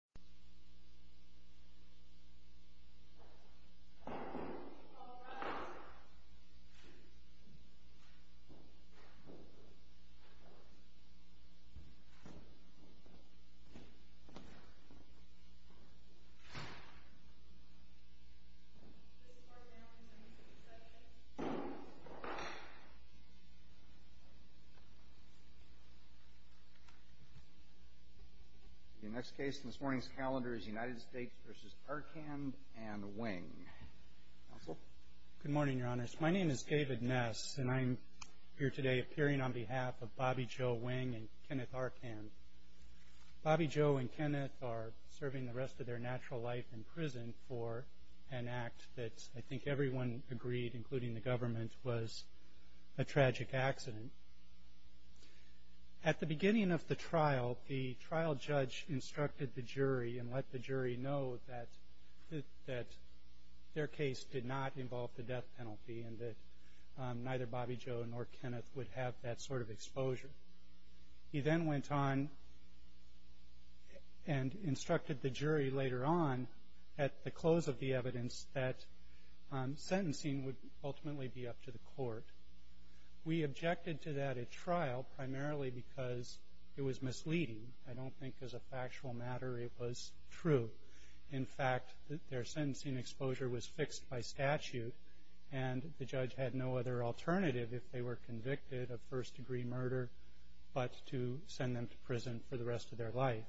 US Senate, House of Representatives, with Regents, Members of Congress, and elected States v. Arcand and Wing. Good morning, Your Honors. My name is David Ness, and I'm here today appearing on behalf of Bobby Joe Wing and Kenneth Arcand. Bobby Joe and Kenneth are serving the rest of their natural life in prison for an act that I think everyone agreed, including the government, was a tragic accident. At the beginning of the trial, the trial judge instructed the jury and let the jury know that their case did not involve the death penalty and that neither Bobby Joe nor Kenneth would have that sort of exposure. He then went on and instructed the jury later on at the close of the evidence that sentencing would ultimately be up to the court. We objected to that at trial primarily because it was misleading. I don't think as a factual matter it was true. In fact, their sentencing exposure was fixed by statute, and the judge had no other alternative if they were convicted of first-degree murder but to send them to prison for the rest of their life.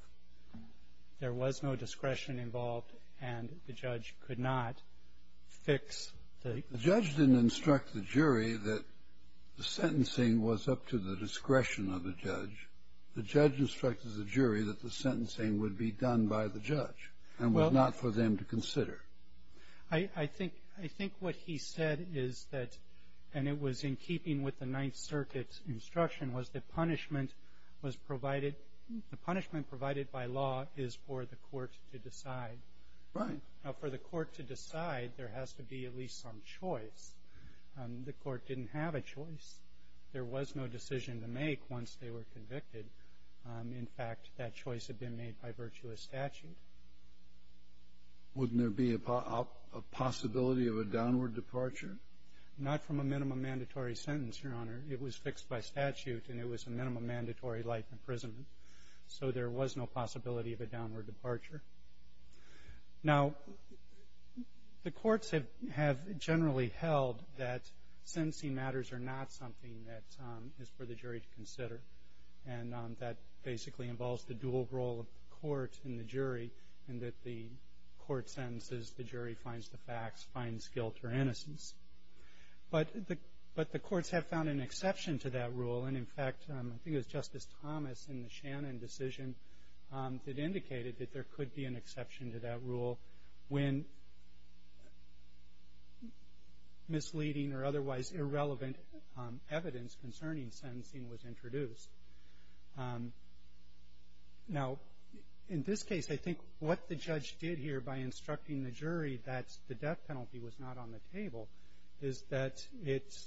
There was no discretion involved, and the judge could not fix the... The judge didn't instruct the jury that the sentencing was up to the discretion of the judge. The judge instructed the jury that the sentencing would be done by the judge and was not for them to consider. I think what he said is that, and it was in keeping with the Ninth Circuit's instruction, was the punishment provided by law is for the court to decide. Right. Now, for the court to decide, there has to be at least some choice. The court didn't have a choice. There was no decision to make once they were convicted. In fact, that choice had been made by virtuous statute. Wouldn't there be a possibility of a downward departure? Not from a minimum mandatory sentence, Your Honor. It was fixed by statute, and it was a minimum mandatory life imprisonment. So there was no possibility of a downward departure. Now, the courts have generally held that sentencing matters are not something that is for the jury to consider, and that basically involves the dual role of the court and the jury, and that the court sentences, the jury finds the facts, finds guilt or innocence. But the courts have found an exception to that rule, and in fact, I think it was Justice Thomas in the Shannon decision that indicated that there could be an exception to that rule when misleading or otherwise irrelevant evidence concerning sentencing was introduced. Now, in this case, I think what the judge did here by instructing the jury that the death penalty was not on the table is that it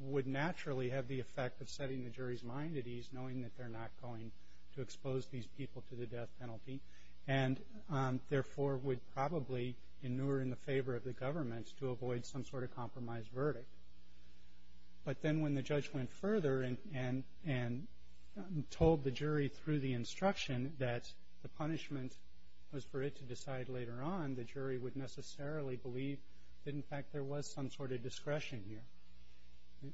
would naturally have the effect of setting the jury's mind at ease knowing that they're not going to expose these people to the death penalty, and therefore would probably inure in the favor of the government to avoid some sort of compromise verdict. But then when the judge went further and told the jury through the instruction that the punishment was for it to decide later on, the jury would necessarily believe that, in fact, there was some sort of discretion here.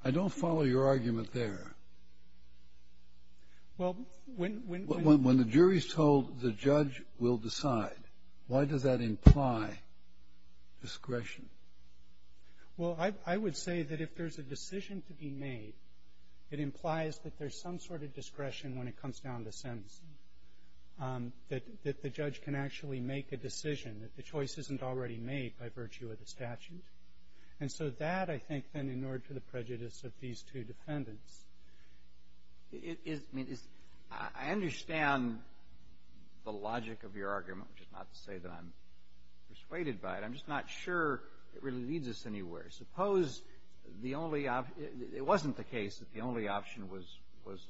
I don't follow your argument there. Well, when the jury's told the judge will decide, why does that imply discretion? Well, I would say that if there's a decision to be made, it implies that there's some sort of discretion when it comes down to sentencing, that the judge can actually make a decision, that the choice isn't already made by virtue of the statute. And so that, I think, then inured to the prejudice of these two defendants. I understand the logic of your argument, which is not to say that I'm persuaded by it. I'm just not sure it really leads us anywhere. Suppose the only option – it wasn't the case that the only option was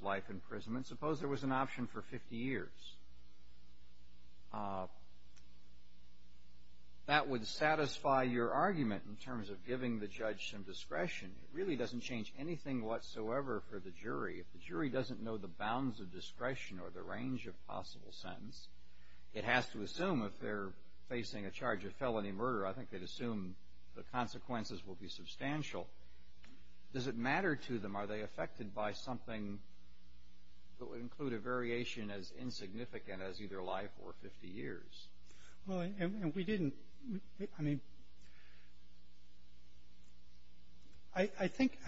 life imprisonment. Suppose there was an option for 50 years. That would satisfy your argument in terms of giving the judge some discretion. It really doesn't change anything whatsoever for the jury. If the jury doesn't know the bounds of discretion or the range of possible sentence, it has to assume if they're facing a charge of felony murder, I think they'd assume the consequences will be substantial. Does it matter to them? Are they affected by something that would include a variation as insignificant as either life or 50 years? Well, and we didn't – I mean, I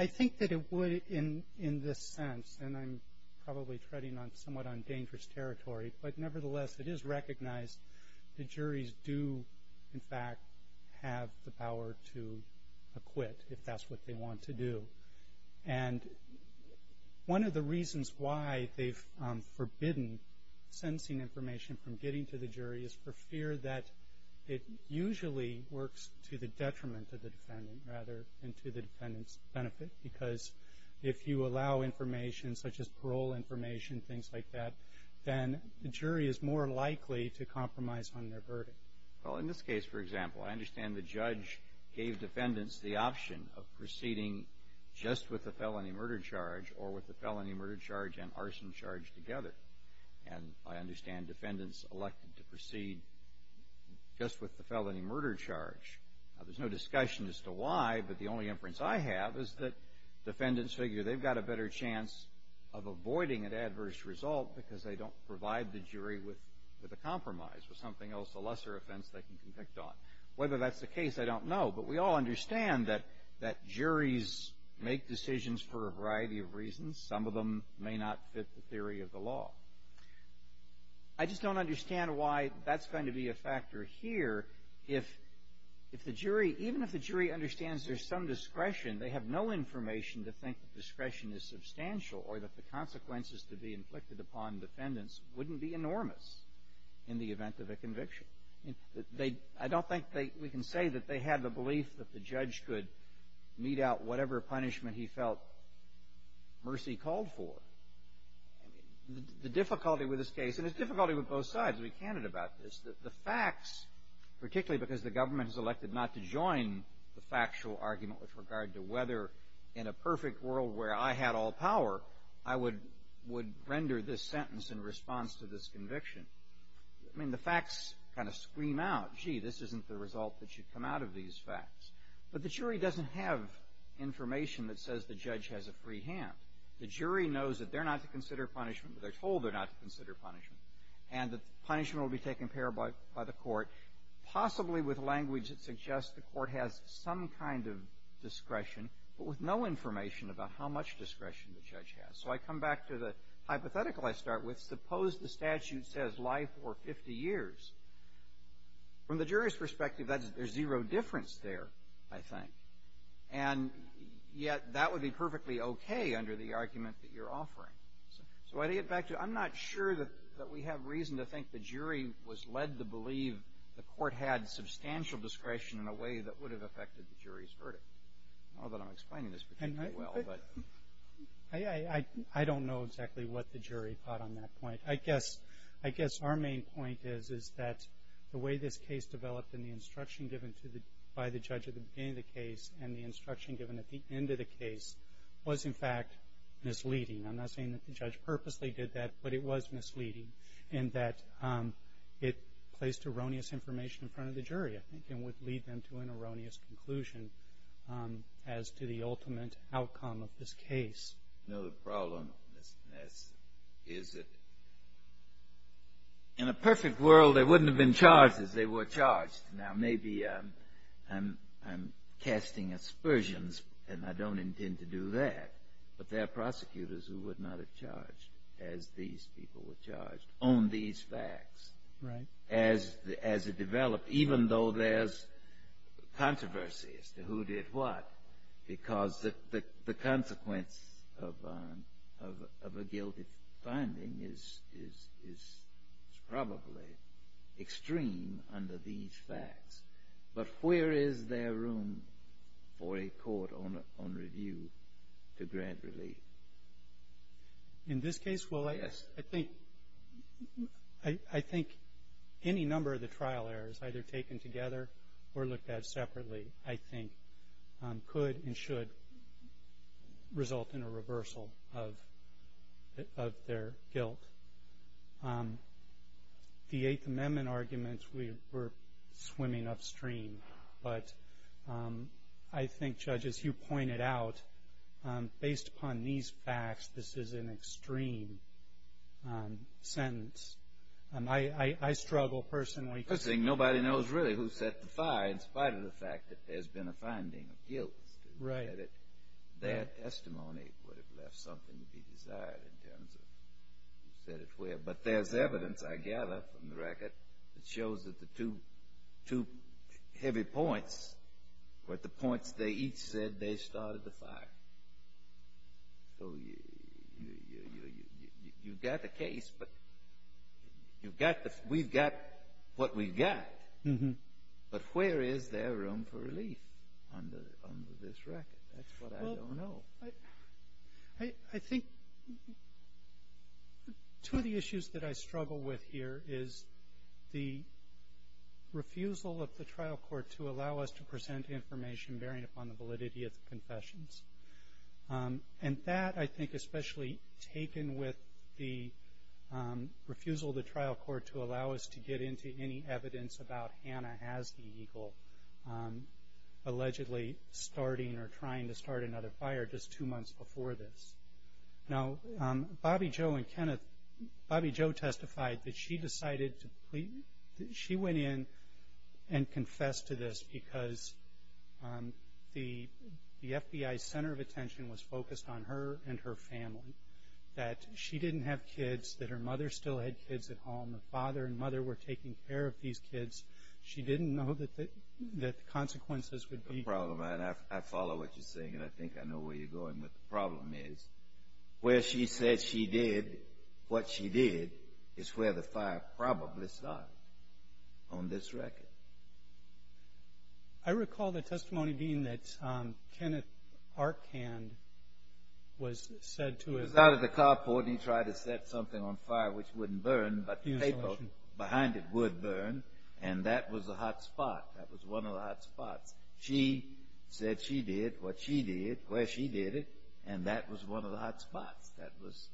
think that it would in this sense, and I'm probably treading somewhat on dangerous territory, but nevertheless, it is recognized the juries do, in fact, have the power to acquit if that's what they want to do. And one of the reasons why they've forbidden sentencing information from getting to the jury is for fear that it usually works to the detriment of the defendant, rather, and to the defendant's benefit. Because if you allow information such as parole information, things like that, then the jury is more likely to compromise on their verdict. Well, in this case, for example, I understand the judge gave defendants the murder charge or with the felony murder charge and arson charge together. And I understand defendants elected to proceed just with the felony murder charge. Now, there's no discussion as to why, but the only inference I have is that defendants figure they've got a better chance of avoiding an adverse result because they don't provide the jury with a compromise, with something else, a lesser offense they can convict on. Whether that's the case, I don't know. But we all understand that juries make decisions for a variety of reasons. Some of them may not fit the theory of the law. I just don't understand why that's going to be a factor here if the jury, even if the jury understands there's some discretion, they have no information to think that discretion is substantial or that the consequences to be inflicted upon defendants wouldn't be enormous in the event of a conviction. I don't think we can say that they had the belief that the judge could mete out whatever punishment he felt mercy called for. The difficulty with this case, and there's difficulty with both sides to be candid about this, that the facts, particularly because the government has elected not to join the factual argument with regard to whether in a perfect world where I had all power, I would render this sentence in response to this conviction. I mean, the facts kind of scream out, gee, this isn't the result that should come out of these facts. But the jury doesn't have information that says the judge has a free hand. The jury knows that they're not to consider punishment, but they're told they're not to consider punishment. And the punishment will be taken care of by the court, possibly with language that suggests the court has some kind of discretion, but with no information about how much discretion the judge has. So I come back to the hypothetical I start with. Suppose the statute says life or 50 years. From the jury's perspective, there's zero difference there, I think. And yet that would be perfectly okay under the argument that you're offering. So I get back to, I'm not sure that we have reason to think the jury was led to believe the court had substantial discretion in a way that would have affected the jury's verdict. Not that I'm explaining this particularly well, but. I don't know exactly what the jury thought on that point. I guess our main point is that the way this case developed and the instruction given by the judge at the beginning of the case and the instruction given at the end of the case was, in fact, misleading. I'm not saying that the judge purposely did that, but it was misleading in that it placed erroneous information in front of the jury, I think, and would lead them to an erroneous conclusion as to the ultimate outcome of this case. No, the problem is that in a perfect world, they wouldn't have been charged as they were charged. Now, maybe I'm casting aspersions, and I don't intend to do that, but there are prosecutors who would not have charged as these people were charged on these facts. Right. As it developed, even though there's controversy as to who did what, because the consequence of a guilty finding is probably extreme under these facts, but where is there room for a court on review to grant relief? In this case, well, I think any number of the trial errors, either taken together or looked at separately, I think, could and should result in a reversal of their guilt. The Eighth Amendment arguments were swimming upstream, but I think, Judge, as you pointed out, based upon these facts, this is an extreme sentence. I struggle personally. The good thing, nobody knows really who set the fire in spite of the fact that there's been a finding of guilt. Right. That testimony would have left something to be desired in terms of who set it where. But there's evidence I gather from the record that shows that the two heavy points were the points they each said they started the fire. So you've got the case, but we've got what we've got. But where is there room for relief under this record? That's what I don't know. I think two of the issues that I struggle with here is the refusal of the trial court to allow us to present information bearing upon the validity of the confessions. And that, I think, especially taken with the refusal of the trial court to allow us to get into any evidence about Hannah Hasdy Eagle allegedly starting or trying to start another fire just two months before this. Now, Bobby Jo and Kenneth, because the FBI's center of attention was focused on her and her family, that she didn't have kids, that her mother still had kids at home. Her father and mother were taking care of these kids. She didn't know that the consequences would be. I follow what you're saying, and I think I know where you're going. But the problem is, where she said she did what she did is where the fire probably started on this record. I recall the testimony, Dean, that Kenneth Arkand was said to have. He was out at the carport, and he tried to set something on fire which wouldn't burn, but the paper behind it would burn. And that was the hot spot. That was one of the hot spots. She said she did what she did where she did it, and that was one of the hot spots. That was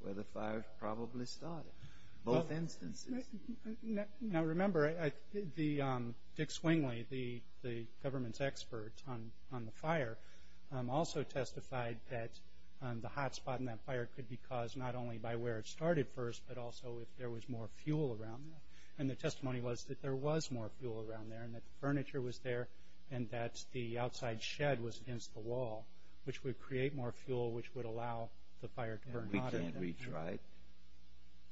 where the fire probably started. Both instances. Now, remember, Dick Swingley, the government's expert on the fire, also testified that the hot spot in that fire could be caused not only by where it started first, but also if there was more fuel around there. And the testimony was that there was more fuel around there and that the furniture was there and that the outside shed was against the wall, which would create more fuel, which would allow the fire to burn hotter. We can't reach right.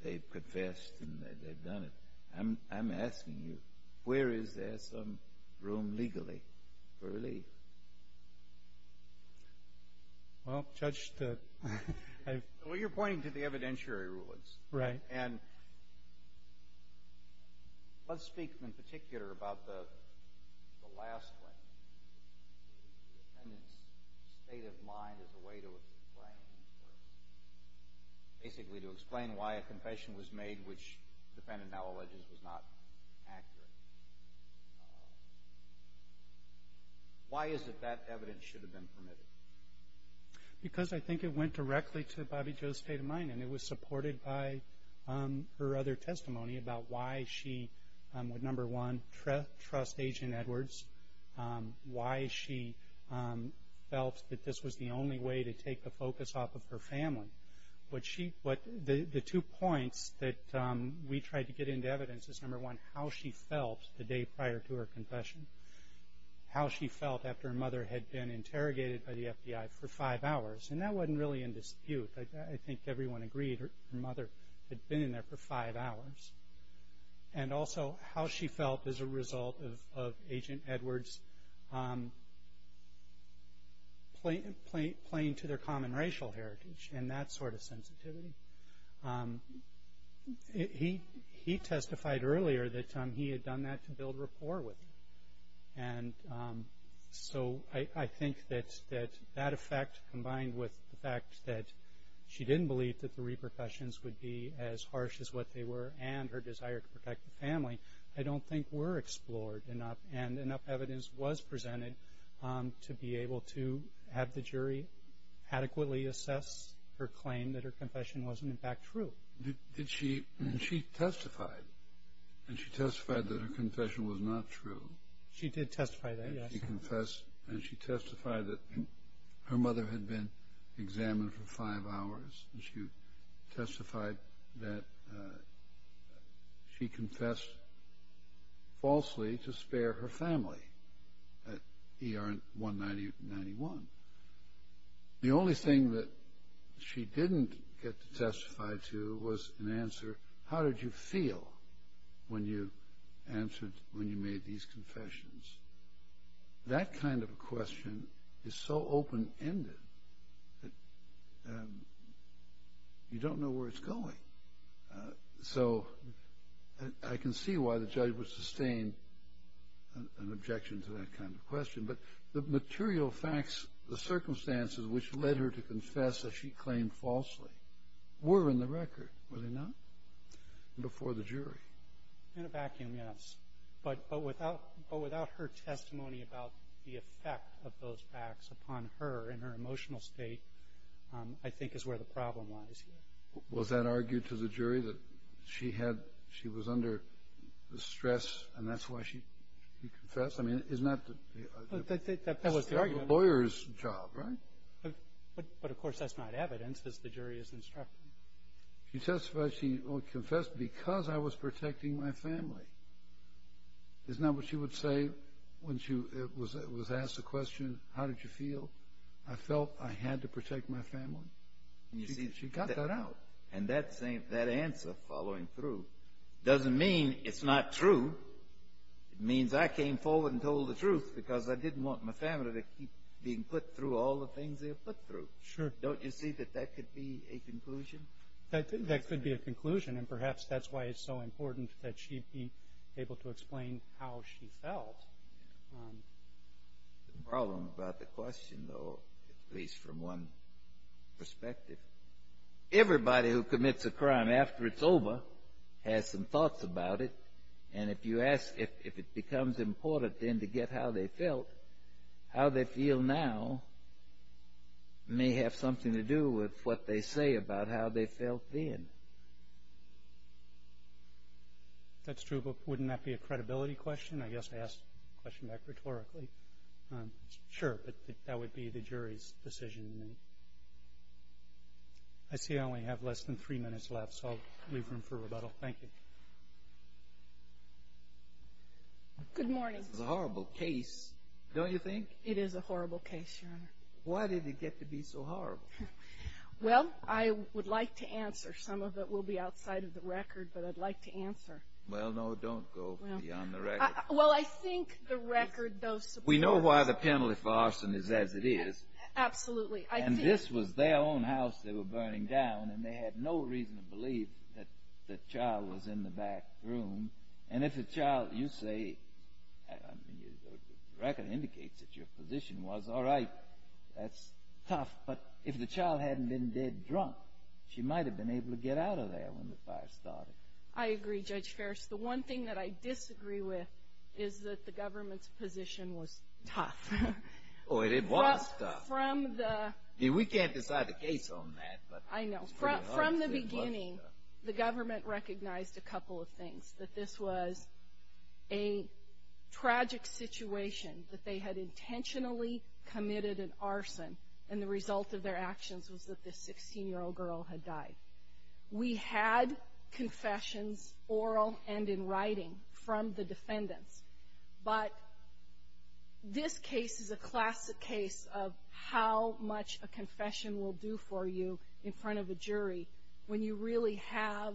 They've confessed and they've done it. I'm asking you, where is there some room legally for relief? Well, Judge, I've... Well, you're pointing to the evidentiary rulings. Right. And let's speak in particular about the last one, the defendant's state of mind as a way to explain, basically to explain why a confession was made, which the defendant now alleges was not accurate. Why is it that evidence should have been permitted? Because I think it went directly to Bobbie Jo's state of mind, and it was supported by her other testimony about why she, number one, didn't trust Agent Edwards, why she felt that this was the only way to take the focus off of her family. The two points that we tried to get into evidence is, number one, how she felt the day prior to her confession, how she felt after her mother had been interrogated by the FBI for five hours. And that wasn't really in dispute. I think everyone agreed her mother had been in there for five hours. And also how she felt as a result of Agent Edwards playing to their common racial heritage and that sort of sensitivity. He testified earlier that he had done that to build rapport with her. And so I think that that effect combined with the fact that she didn't believe that the repercussions would be as harsh as what they were and her desire to protect the family, I don't think were explored enough, and enough evidence was presented to be able to have the jury adequately assess her claim that her confession wasn't, in fact, true. She testified, and she testified that her confession was not true. She did testify that, yes. And she testified that her mother had been examined for five hours and she testified that she confessed falsely to spare her family at ER 191. The only thing that she didn't get to testify to was an answer, when you answered when you made these confessions. That kind of a question is so open-ended that you don't know where it's going. So I can see why the judge would sustain an objection to that kind of question. But the material facts, the circumstances which led her to confess that she claimed falsely were in the record, were they not? Before the jury. In a vacuum, yes. But without her testimony about the effect of those facts upon her and her emotional state, I think is where the problem lies here. Was that argued to the jury that she was under stress and that's why she confessed? I mean, isn't that the argument? That was the argument. It's the lawyer's job, right? But, of course, that's not evidence, as the jury has instructed. She testified she confessed because I was protecting my family. Isn't that what she would say when she was asked the question, how did you feel? I felt I had to protect my family. She got that out. And that answer following through doesn't mean it's not true. It means I came forward and told the truth because I didn't want my family to keep being put through all the things they were put through. Sure. Don't you see that that could be a conclusion? That could be a conclusion. And perhaps that's why it's so important that she be able to explain how she felt. The problem about the question, though, at least from one perspective, everybody who commits a crime after it's over has some thoughts about it. And if you ask if it becomes important then to get how they felt, how they feel now may have something to do with what they say about how they felt then. That's true, but wouldn't that be a credibility question? I guess I asked the question back rhetorically. Sure, but that would be the jury's decision. I see I only have less than three minutes left, so I'll leave room for rebuttal. Thank you. This is a horrible case, don't you think? It is a horrible case, Your Honor. Why did it get to be so horrible? Well, I would like to answer. Some of it will be outside of the record, but I'd like to answer. Well, no, don't go beyond the record. Well, I think the record, though, supports. We know why the penalty for arson is as it is. Absolutely. And this was their own house they were burning down, and they had no reason to believe that the child was in the back room. And if the child, you say, the record indicates that your position was, all right, that's tough. But if the child hadn't been dead drunk, she might have been able to get out of there when the fire started. I agree, Judge Ferris. The one thing that I disagree with is that the government's position was tough. Oh, it was tough. We can't decide the case on that. I know. From the beginning, the government recognized a couple of things, that this was a tragic situation, that they had intentionally committed an arson, and the result of their actions was that this 16-year-old girl had died. We had confessions, oral and in writing, from the defendants. But this case is a classic case of how much a confession will do for you in front of a jury when you really have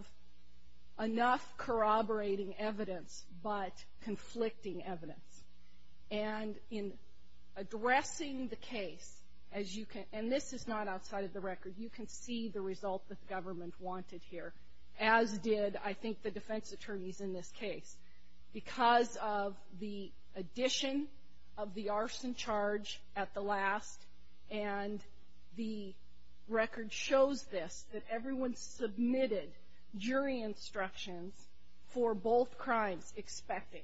enough corroborating evidence but conflicting evidence. And in addressing the case, and this is not outside of the record, you can see the result that the government wanted here, as did, I think, the defense attorneys in this case. Because of the addition of the arson charge at the last, and the record shows this, that everyone submitted jury instructions for both crimes, expecting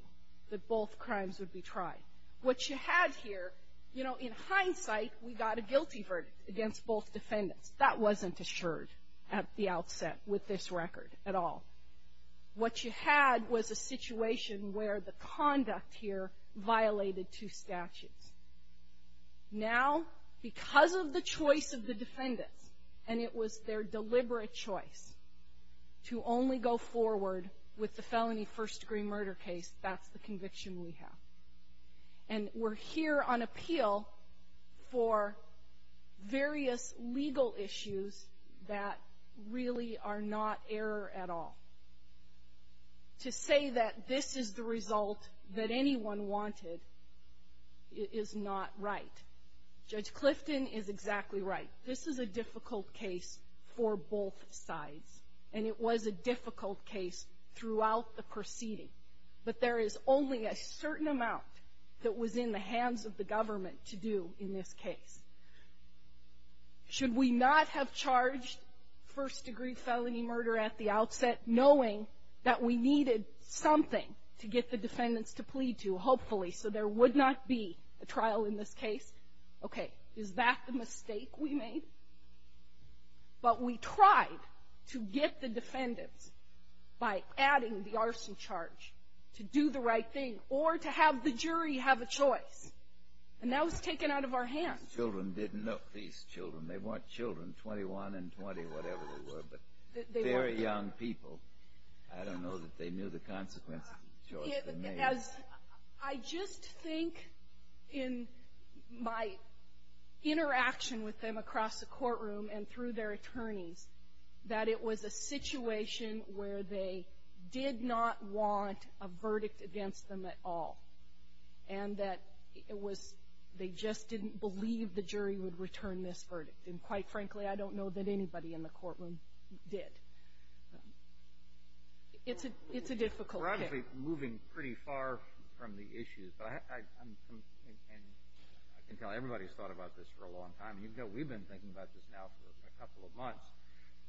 that both crimes would be tried. What you had here, you know, in hindsight, we got a guilty verdict against both defendants. That wasn't assured at the outset with this record at all. What you had was a situation where the conduct here violated two statutes. Now, because of the choice of the defendants, and it was their deliberate choice to only go forward with the felony first-degree murder case, that's the conviction we have. And we're here on appeal for various legal issues that really are not error at all. To say that this is the result that anyone wanted is not right. Judge Clifton is exactly right. This is a difficult case for both sides, and it was a difficult case throughout the proceeding. But there is only a certain amount that was in the hands of the government to do in this case. Should we not have charged first-degree felony murder at the outset, knowing that we needed something to get the defendants to plead to, hopefully, so there would not be a trial in this case? Okay. Is that the mistake we made? But we tried to get the defendants by adding the arson charge to do the right thing or to have the jury have a choice. And that was taken out of our hands. These children didn't know. These children, they weren't children, 21 and 20, whatever they were, but very young people. I don't know that they knew the consequences of the choice they made. I just think in my interaction with them across the courtroom and through their attorneys that it was a situation where they did not want a verdict against them at all and that it was they just didn't believe the jury would return this verdict. And quite frankly, I don't know that anybody in the courtroom did. It's a difficult case. We're obviously moving pretty far from the issues, but I can tell everybody's thought about this for a long time. We've been thinking about this now for a couple of months.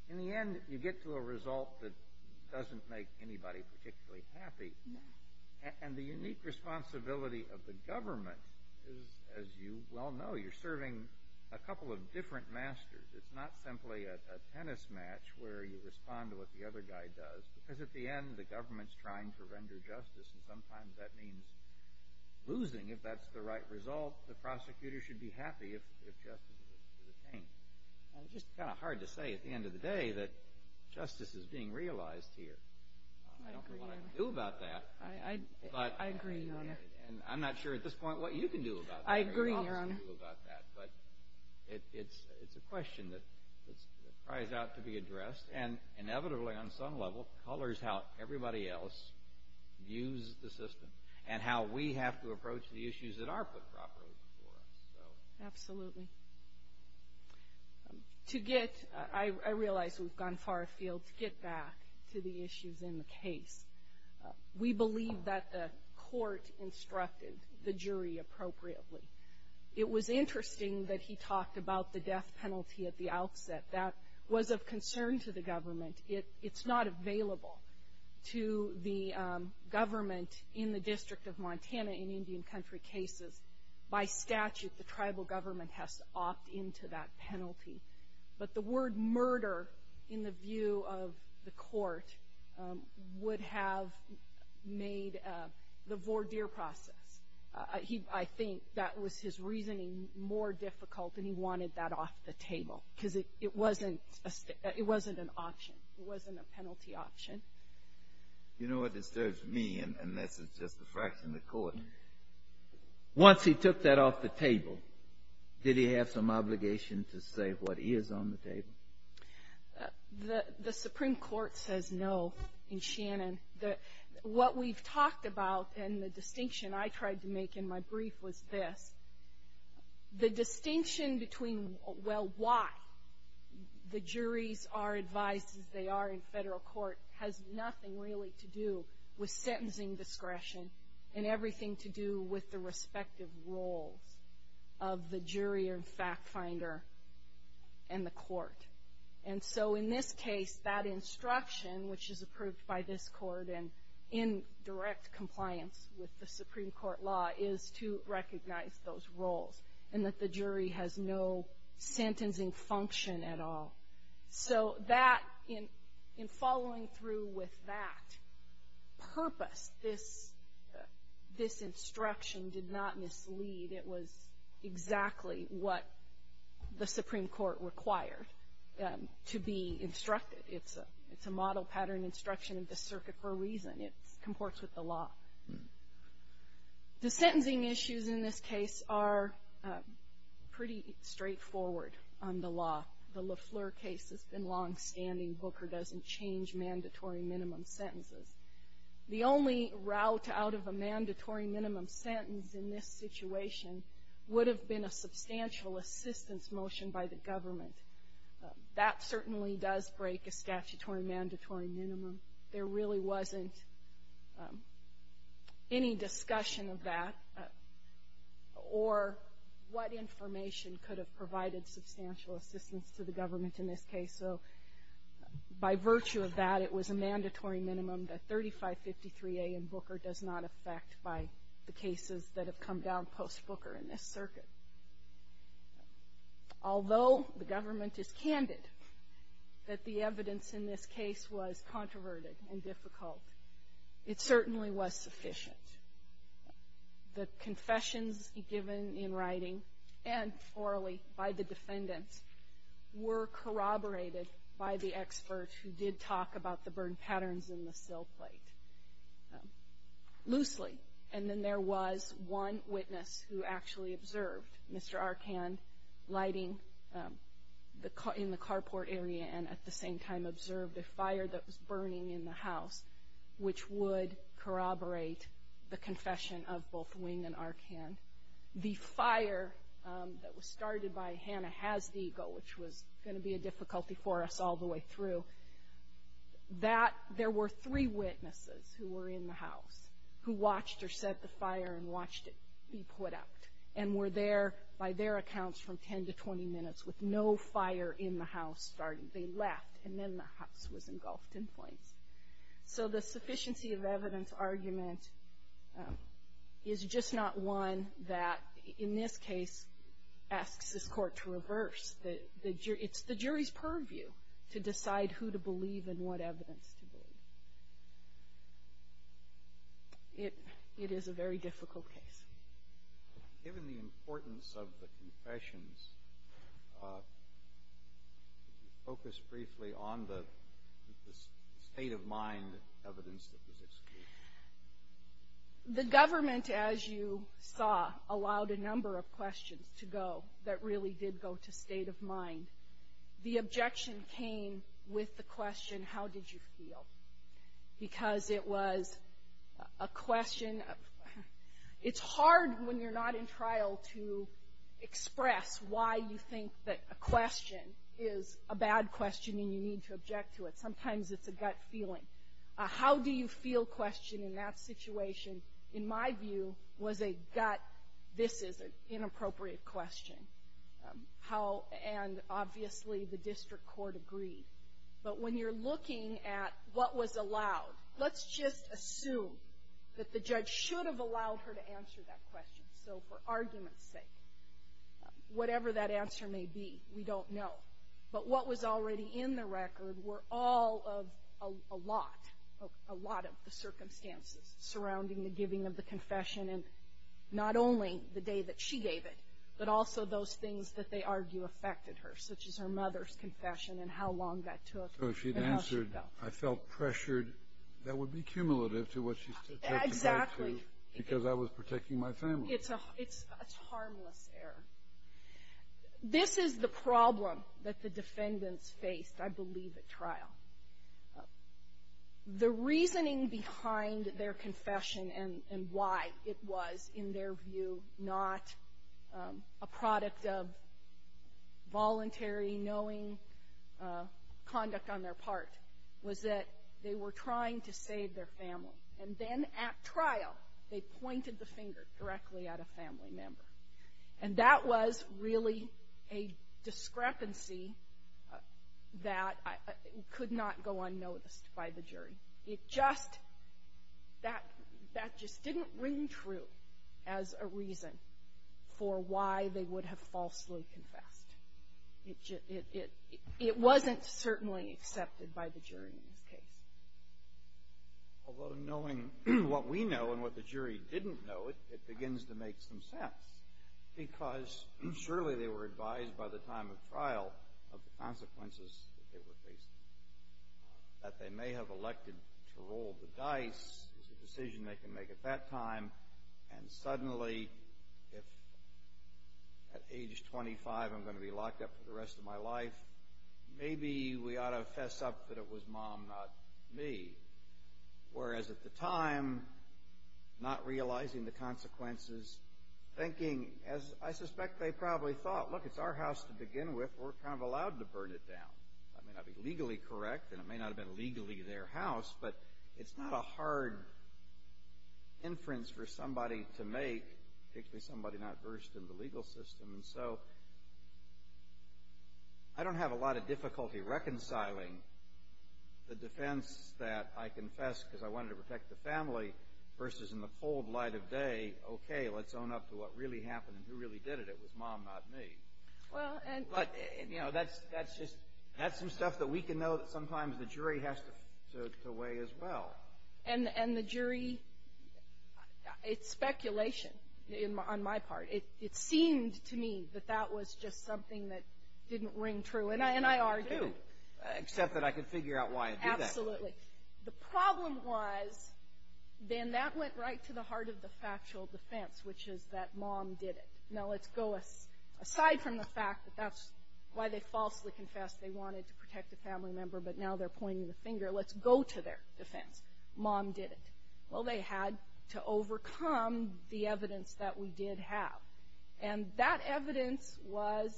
In the end, you get to a result that doesn't make anybody particularly happy. And the unique responsibility of the government is, as you well know, you're serving a couple of different masters. It's not simply a tennis match where you respond to what the other guy does because at the end the government's trying to render justice, and sometimes that means losing if that's the right result. The prosecutor should be happy if justice is attained. It's just kind of hard to say at the end of the day that justice is being realized here. I don't know what I can do about that. I agree, Your Honor. I'm not sure at this point what you can do about that. I agree, Your Honor. It's a question that cries out to be addressed, and inevitably on some level colors how everybody else views the system and how we have to approach the issues that are put properly before us. Absolutely. I realize we've gone far afield to get back to the issues in the case. We believe that the court instructed the jury appropriately. It was interesting that he talked about the death penalty at the outset. That was of concern to the government. It's not available to the government in the District of Montana in Indian Country cases. By statute, the tribal government has to opt into that penalty. But the word murder, in the view of the court, would have made the voir dire process. I think that was his reasoning more difficult, and he wanted that off the table because it wasn't an option. It wasn't a penalty option. You know what disturbs me, and this is just a fraction of the court. Once he took that off the table, did he have some obligation to say what is on the table? The Supreme Court says no in Shannon. What we've talked about and the distinction I tried to make in my brief was this. The distinction between, well, why the juries are advised as they are in federal court, has nothing really to do with sentencing discretion and everything to do with the respective roles of the jury and fact finder and the court. And so in this case, that instruction, which is approved by this court and in direct compliance with the Supreme Court law, is to recognize those roles and that the jury has no sentencing function at all. So in following through with that purpose, this instruction did not mislead. It was exactly what the Supreme Court required to be instructed. It's a model pattern instruction of the circuit for a reason. It comports with the law. The sentencing issues in this case are pretty straightforward on the law. The LeFleur case has been longstanding. Booker doesn't change mandatory minimum sentences. The only route out of a mandatory minimum sentence in this situation would have been a substantial assistance motion by the government. That certainly does break a statutory mandatory minimum. There really wasn't any discussion of that or what information could have provided substantial assistance to the government in this case. So by virtue of that, it was a mandatory minimum that 3553A in Booker does not affect by the cases that have come down post-Booker in this circuit. Although the government is candid that the evidence in this case was controverted and difficult, it certainly was sufficient. The confessions given in writing and orally by the defendants were corroborated by the expert who did talk about the burn patterns in the sill plate loosely. And then there was one witness who actually observed Mr. Arkand lighting in the carport area and at the same time observed a fire that was burning in the house, which would corroborate the confession of both Wing and Arkand. The fire that was started by Hannah Hasdiego, which was going to be a difficulty for us all the way through, there were three witnesses who were in the house who watched or set the fire and watched it be put out and were there by their accounts from 10 to 20 minutes with no fire in the house starting. They left, and then the house was engulfed in flames. So the sufficiency of evidence argument is just not one that in this case asks this Court to reverse. It's the jury's purview to decide who to believe and what evidence to believe. It is a very difficult case. Given the importance of the confessions, could you focus briefly on the state of mind evidence that was excluded? The government, as you saw, allowed a number of questions to go that really did go to state of mind. The objection came with the question, how did you feel? Because it was a question of, it's hard when you're not in trial to express why you think that a question is a bad question and you need to object to it. Sometimes it's a gut feeling. A how do you feel question in that situation, in my view, was a gut, this is an inappropriate question. And obviously the district court agreed. But when you're looking at what was allowed, let's just assume that the judge should have allowed her to answer that question. So for argument's sake, whatever that answer may be, we don't know. But what was already in the record were all of a lot, a lot of the circumstances surrounding the giving of the confession, and not only the day that she gave it, but also those things that they argue affected her, such as her mother's confession and how long that took and how she felt. So if she had answered, I felt pressured, that would be cumulative to what she took the day to. Exactly. Because I was protecting my family. It's a harmless error. This is the problem that the defendants faced, I believe, at trial. The reasoning behind their confession and why it was, in their view, not a product of voluntary knowing conduct on their part, was that they were trying to save their family. And then at trial, they pointed the finger directly at a family member. And that was really a discrepancy that could not go unnoticed by the jury. It just, that just didn't ring true as a reason for why they would have falsely confessed. It wasn't certainly accepted by the jury in this case. Although knowing what we know and what the jury didn't know, it begins to make some sense. Because surely they were advised by the time of trial of the consequences that they were facing. That they may have elected to roll the dice is a decision they can make at that time. And suddenly, if at age 25 I'm going to be locked up for the rest of my life, maybe we ought to fess up that it was mom, not me. Whereas at the time, not realizing the consequences, thinking, as I suspect they probably thought, look, it's our house to begin with, we're kind of allowed to burn it down. That may not be legally correct, and it may not have been legally their house, but it's not a hard inference for somebody to make, particularly somebody not versed in the legal system. And so I don't have a lot of difficulty reconciling the defense that I confessed because I wanted to protect the family versus in the cold light of day, okay, let's own up to what really happened and who really did it. It was mom, not me. But, you know, that's some stuff that we can know that sometimes the jury has to weigh as well. And the jury, it's speculation on my part. It seemed to me that that was just something that didn't ring true. And I argued. Except that I could figure out why it did that. Absolutely. The problem was, Ben, that went right to the heart of the factual defense, which is that mom did it. Now let's go aside from the fact that that's why they falsely confessed they wanted to protect a family member, but now they're pointing the finger. Let's go to their defense. Mom did it. Well, they had to overcome the evidence that we did have. And that evidence was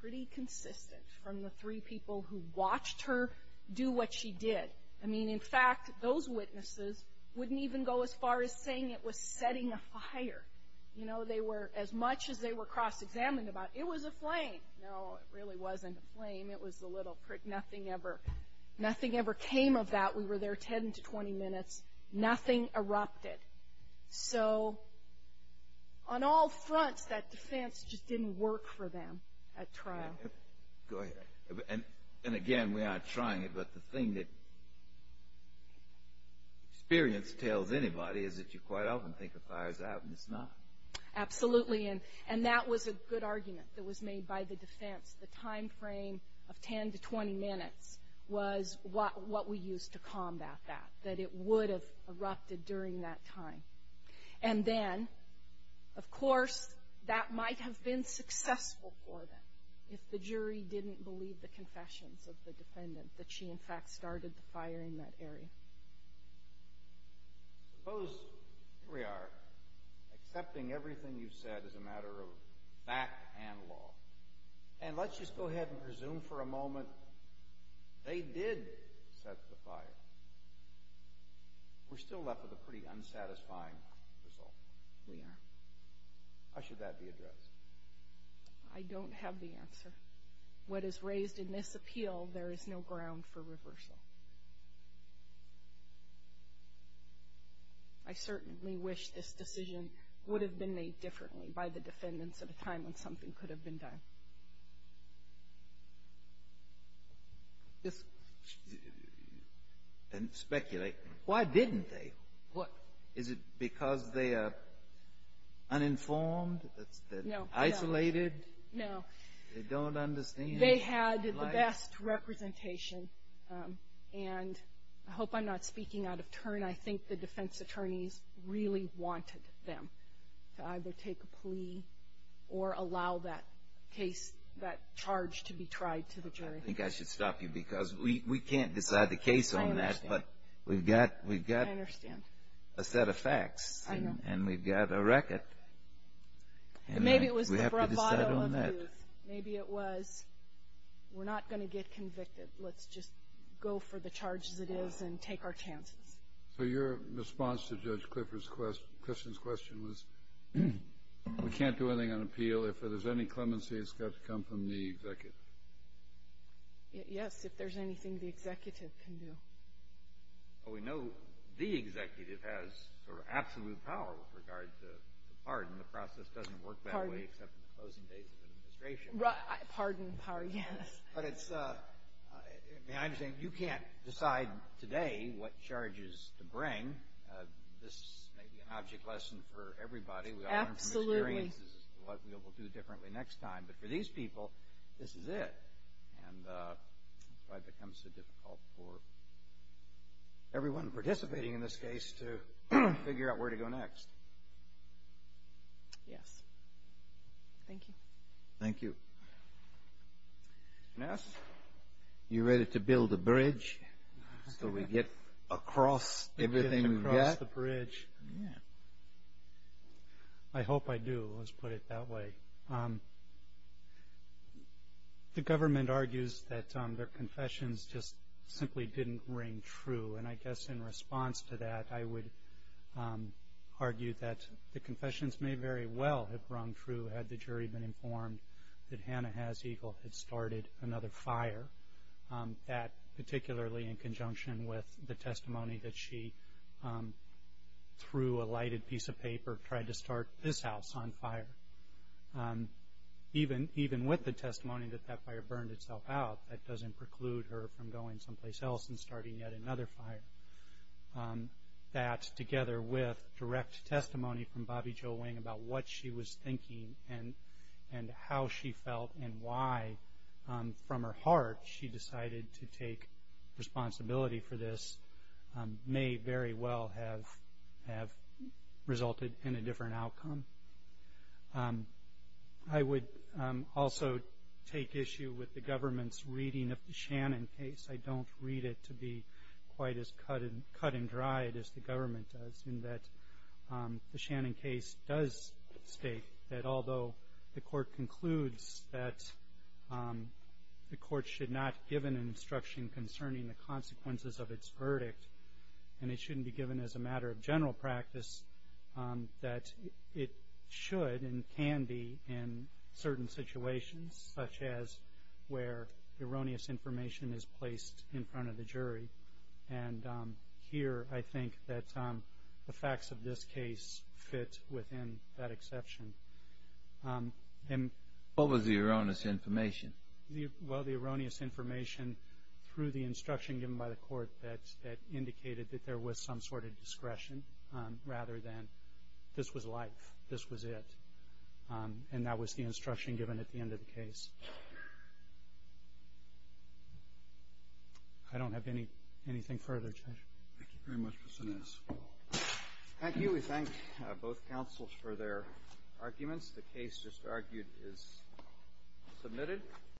pretty consistent from the three people who watched her do what she did. I mean, in fact, those witnesses wouldn't even go as far as saying it was setting a fire. You know, they were, as much as they were cross-examined about it, it was a flame. No, it really wasn't a flame. It was a little prick. Nothing ever came of that. We were there 10 to 20 minutes. Nothing erupted. So on all fronts, that defense just didn't work for them at trial. Go ahead. And, again, we aren't trying it, but the thing that experience tells anybody is that you quite often think a fire's out, and it's not. Absolutely. And that was a good argument that was made by the defense. The timeframe of 10 to 20 minutes was what we used to combat that, that it would have erupted during that time. And then, of course, that might have been successful for them if the jury didn't believe the confessions of the defendant, that she, in fact, started the fire in that area. Suppose, here we are, accepting everything you've said as a matter of fact and law. And let's just go ahead and presume for a moment they did set the fire. We're still left with a pretty unsatisfying result. We are. How should that be addressed? I don't have the answer. What is raised in this appeal, there is no ground for reversal. I certainly wish this decision would have been made differently by the defendants at a time when something could have been done. Just speculate. Why didn't they? What? Is it because they are uninformed? No. Isolated? No. They don't understand? They had the best representation. And I hope I'm not speaking out of turn. I think the defense attorneys really wanted them to either take a plea or allow that case, that charge to be tried to the jury. I think I should stop you because we can't decide the case on that. I understand. But we've got a set of facts. I know. And we've got a record. Maybe it was the bravado of youth. We have to decide on that. Maybe it was we're not going to get convicted. Let's just go for the charge as it is and take our chances. So your response to Judge Clipper's question was we can't do anything on appeal. If there's any clemency, it's got to come from the executive. Yes. If there's anything the executive can do. Well, we know the executive has sort of absolute power with regard to the pardon. The process doesn't work that way except in the closing days of the administration. Pardon, pardon, yes. But it's, I mean, I understand you can't decide today what charges to bring. This may be an object lesson for everybody. Absolutely. We've got to learn from experience. This is what we'll be able to do differently next time. But for these people, this is it. And that's why it becomes so difficult for everyone participating in this case to figure out where to go next. Yes. Thank you. Thank you. Mr. Ness, you ready to build a bridge so we get across everything we've got? Across the bridge. I hope I do. Let's put it that way. The government argues that their confessions just simply didn't ring true. And I guess in response to that, I would argue that the confessions may very well have rung true had the jury been informed that Hannah Has Eagle had started another fire, that particularly in conjunction with the testimony that she, through a lighted piece of paper, tried to start this house on fire, even with the testimony that that fire burned itself out, that doesn't preclude her from going someplace else and starting yet another fire, that together with direct testimony from Bobby Jo Wing about what she was thinking and how she felt and why, from her heart, she decided to take responsibility for this, may very well have resulted in a different outcome. I would also take issue with the government's reading of the Shannon case. I don't read it to be quite as cut and dried as the government does, in that the Shannon case does state that although the court concludes that the court should not give an instruction concerning the consequences of its verdict and it shouldn't be given as a matter of general practice, that it should and can be in certain situations, such as where erroneous information is placed in front of the jury. And here I think that the facts of this case fit within that exception. What was the erroneous information? Well, the erroneous information through the instruction given by the court that indicated that there was some sort of discretion rather than this was life, this was it. And that was the instruction given at the end of the case. I don't have anything further, Judge. Thank you very much for this. Thank you. We thank both counsels for their arguments. The case just argued is submitted.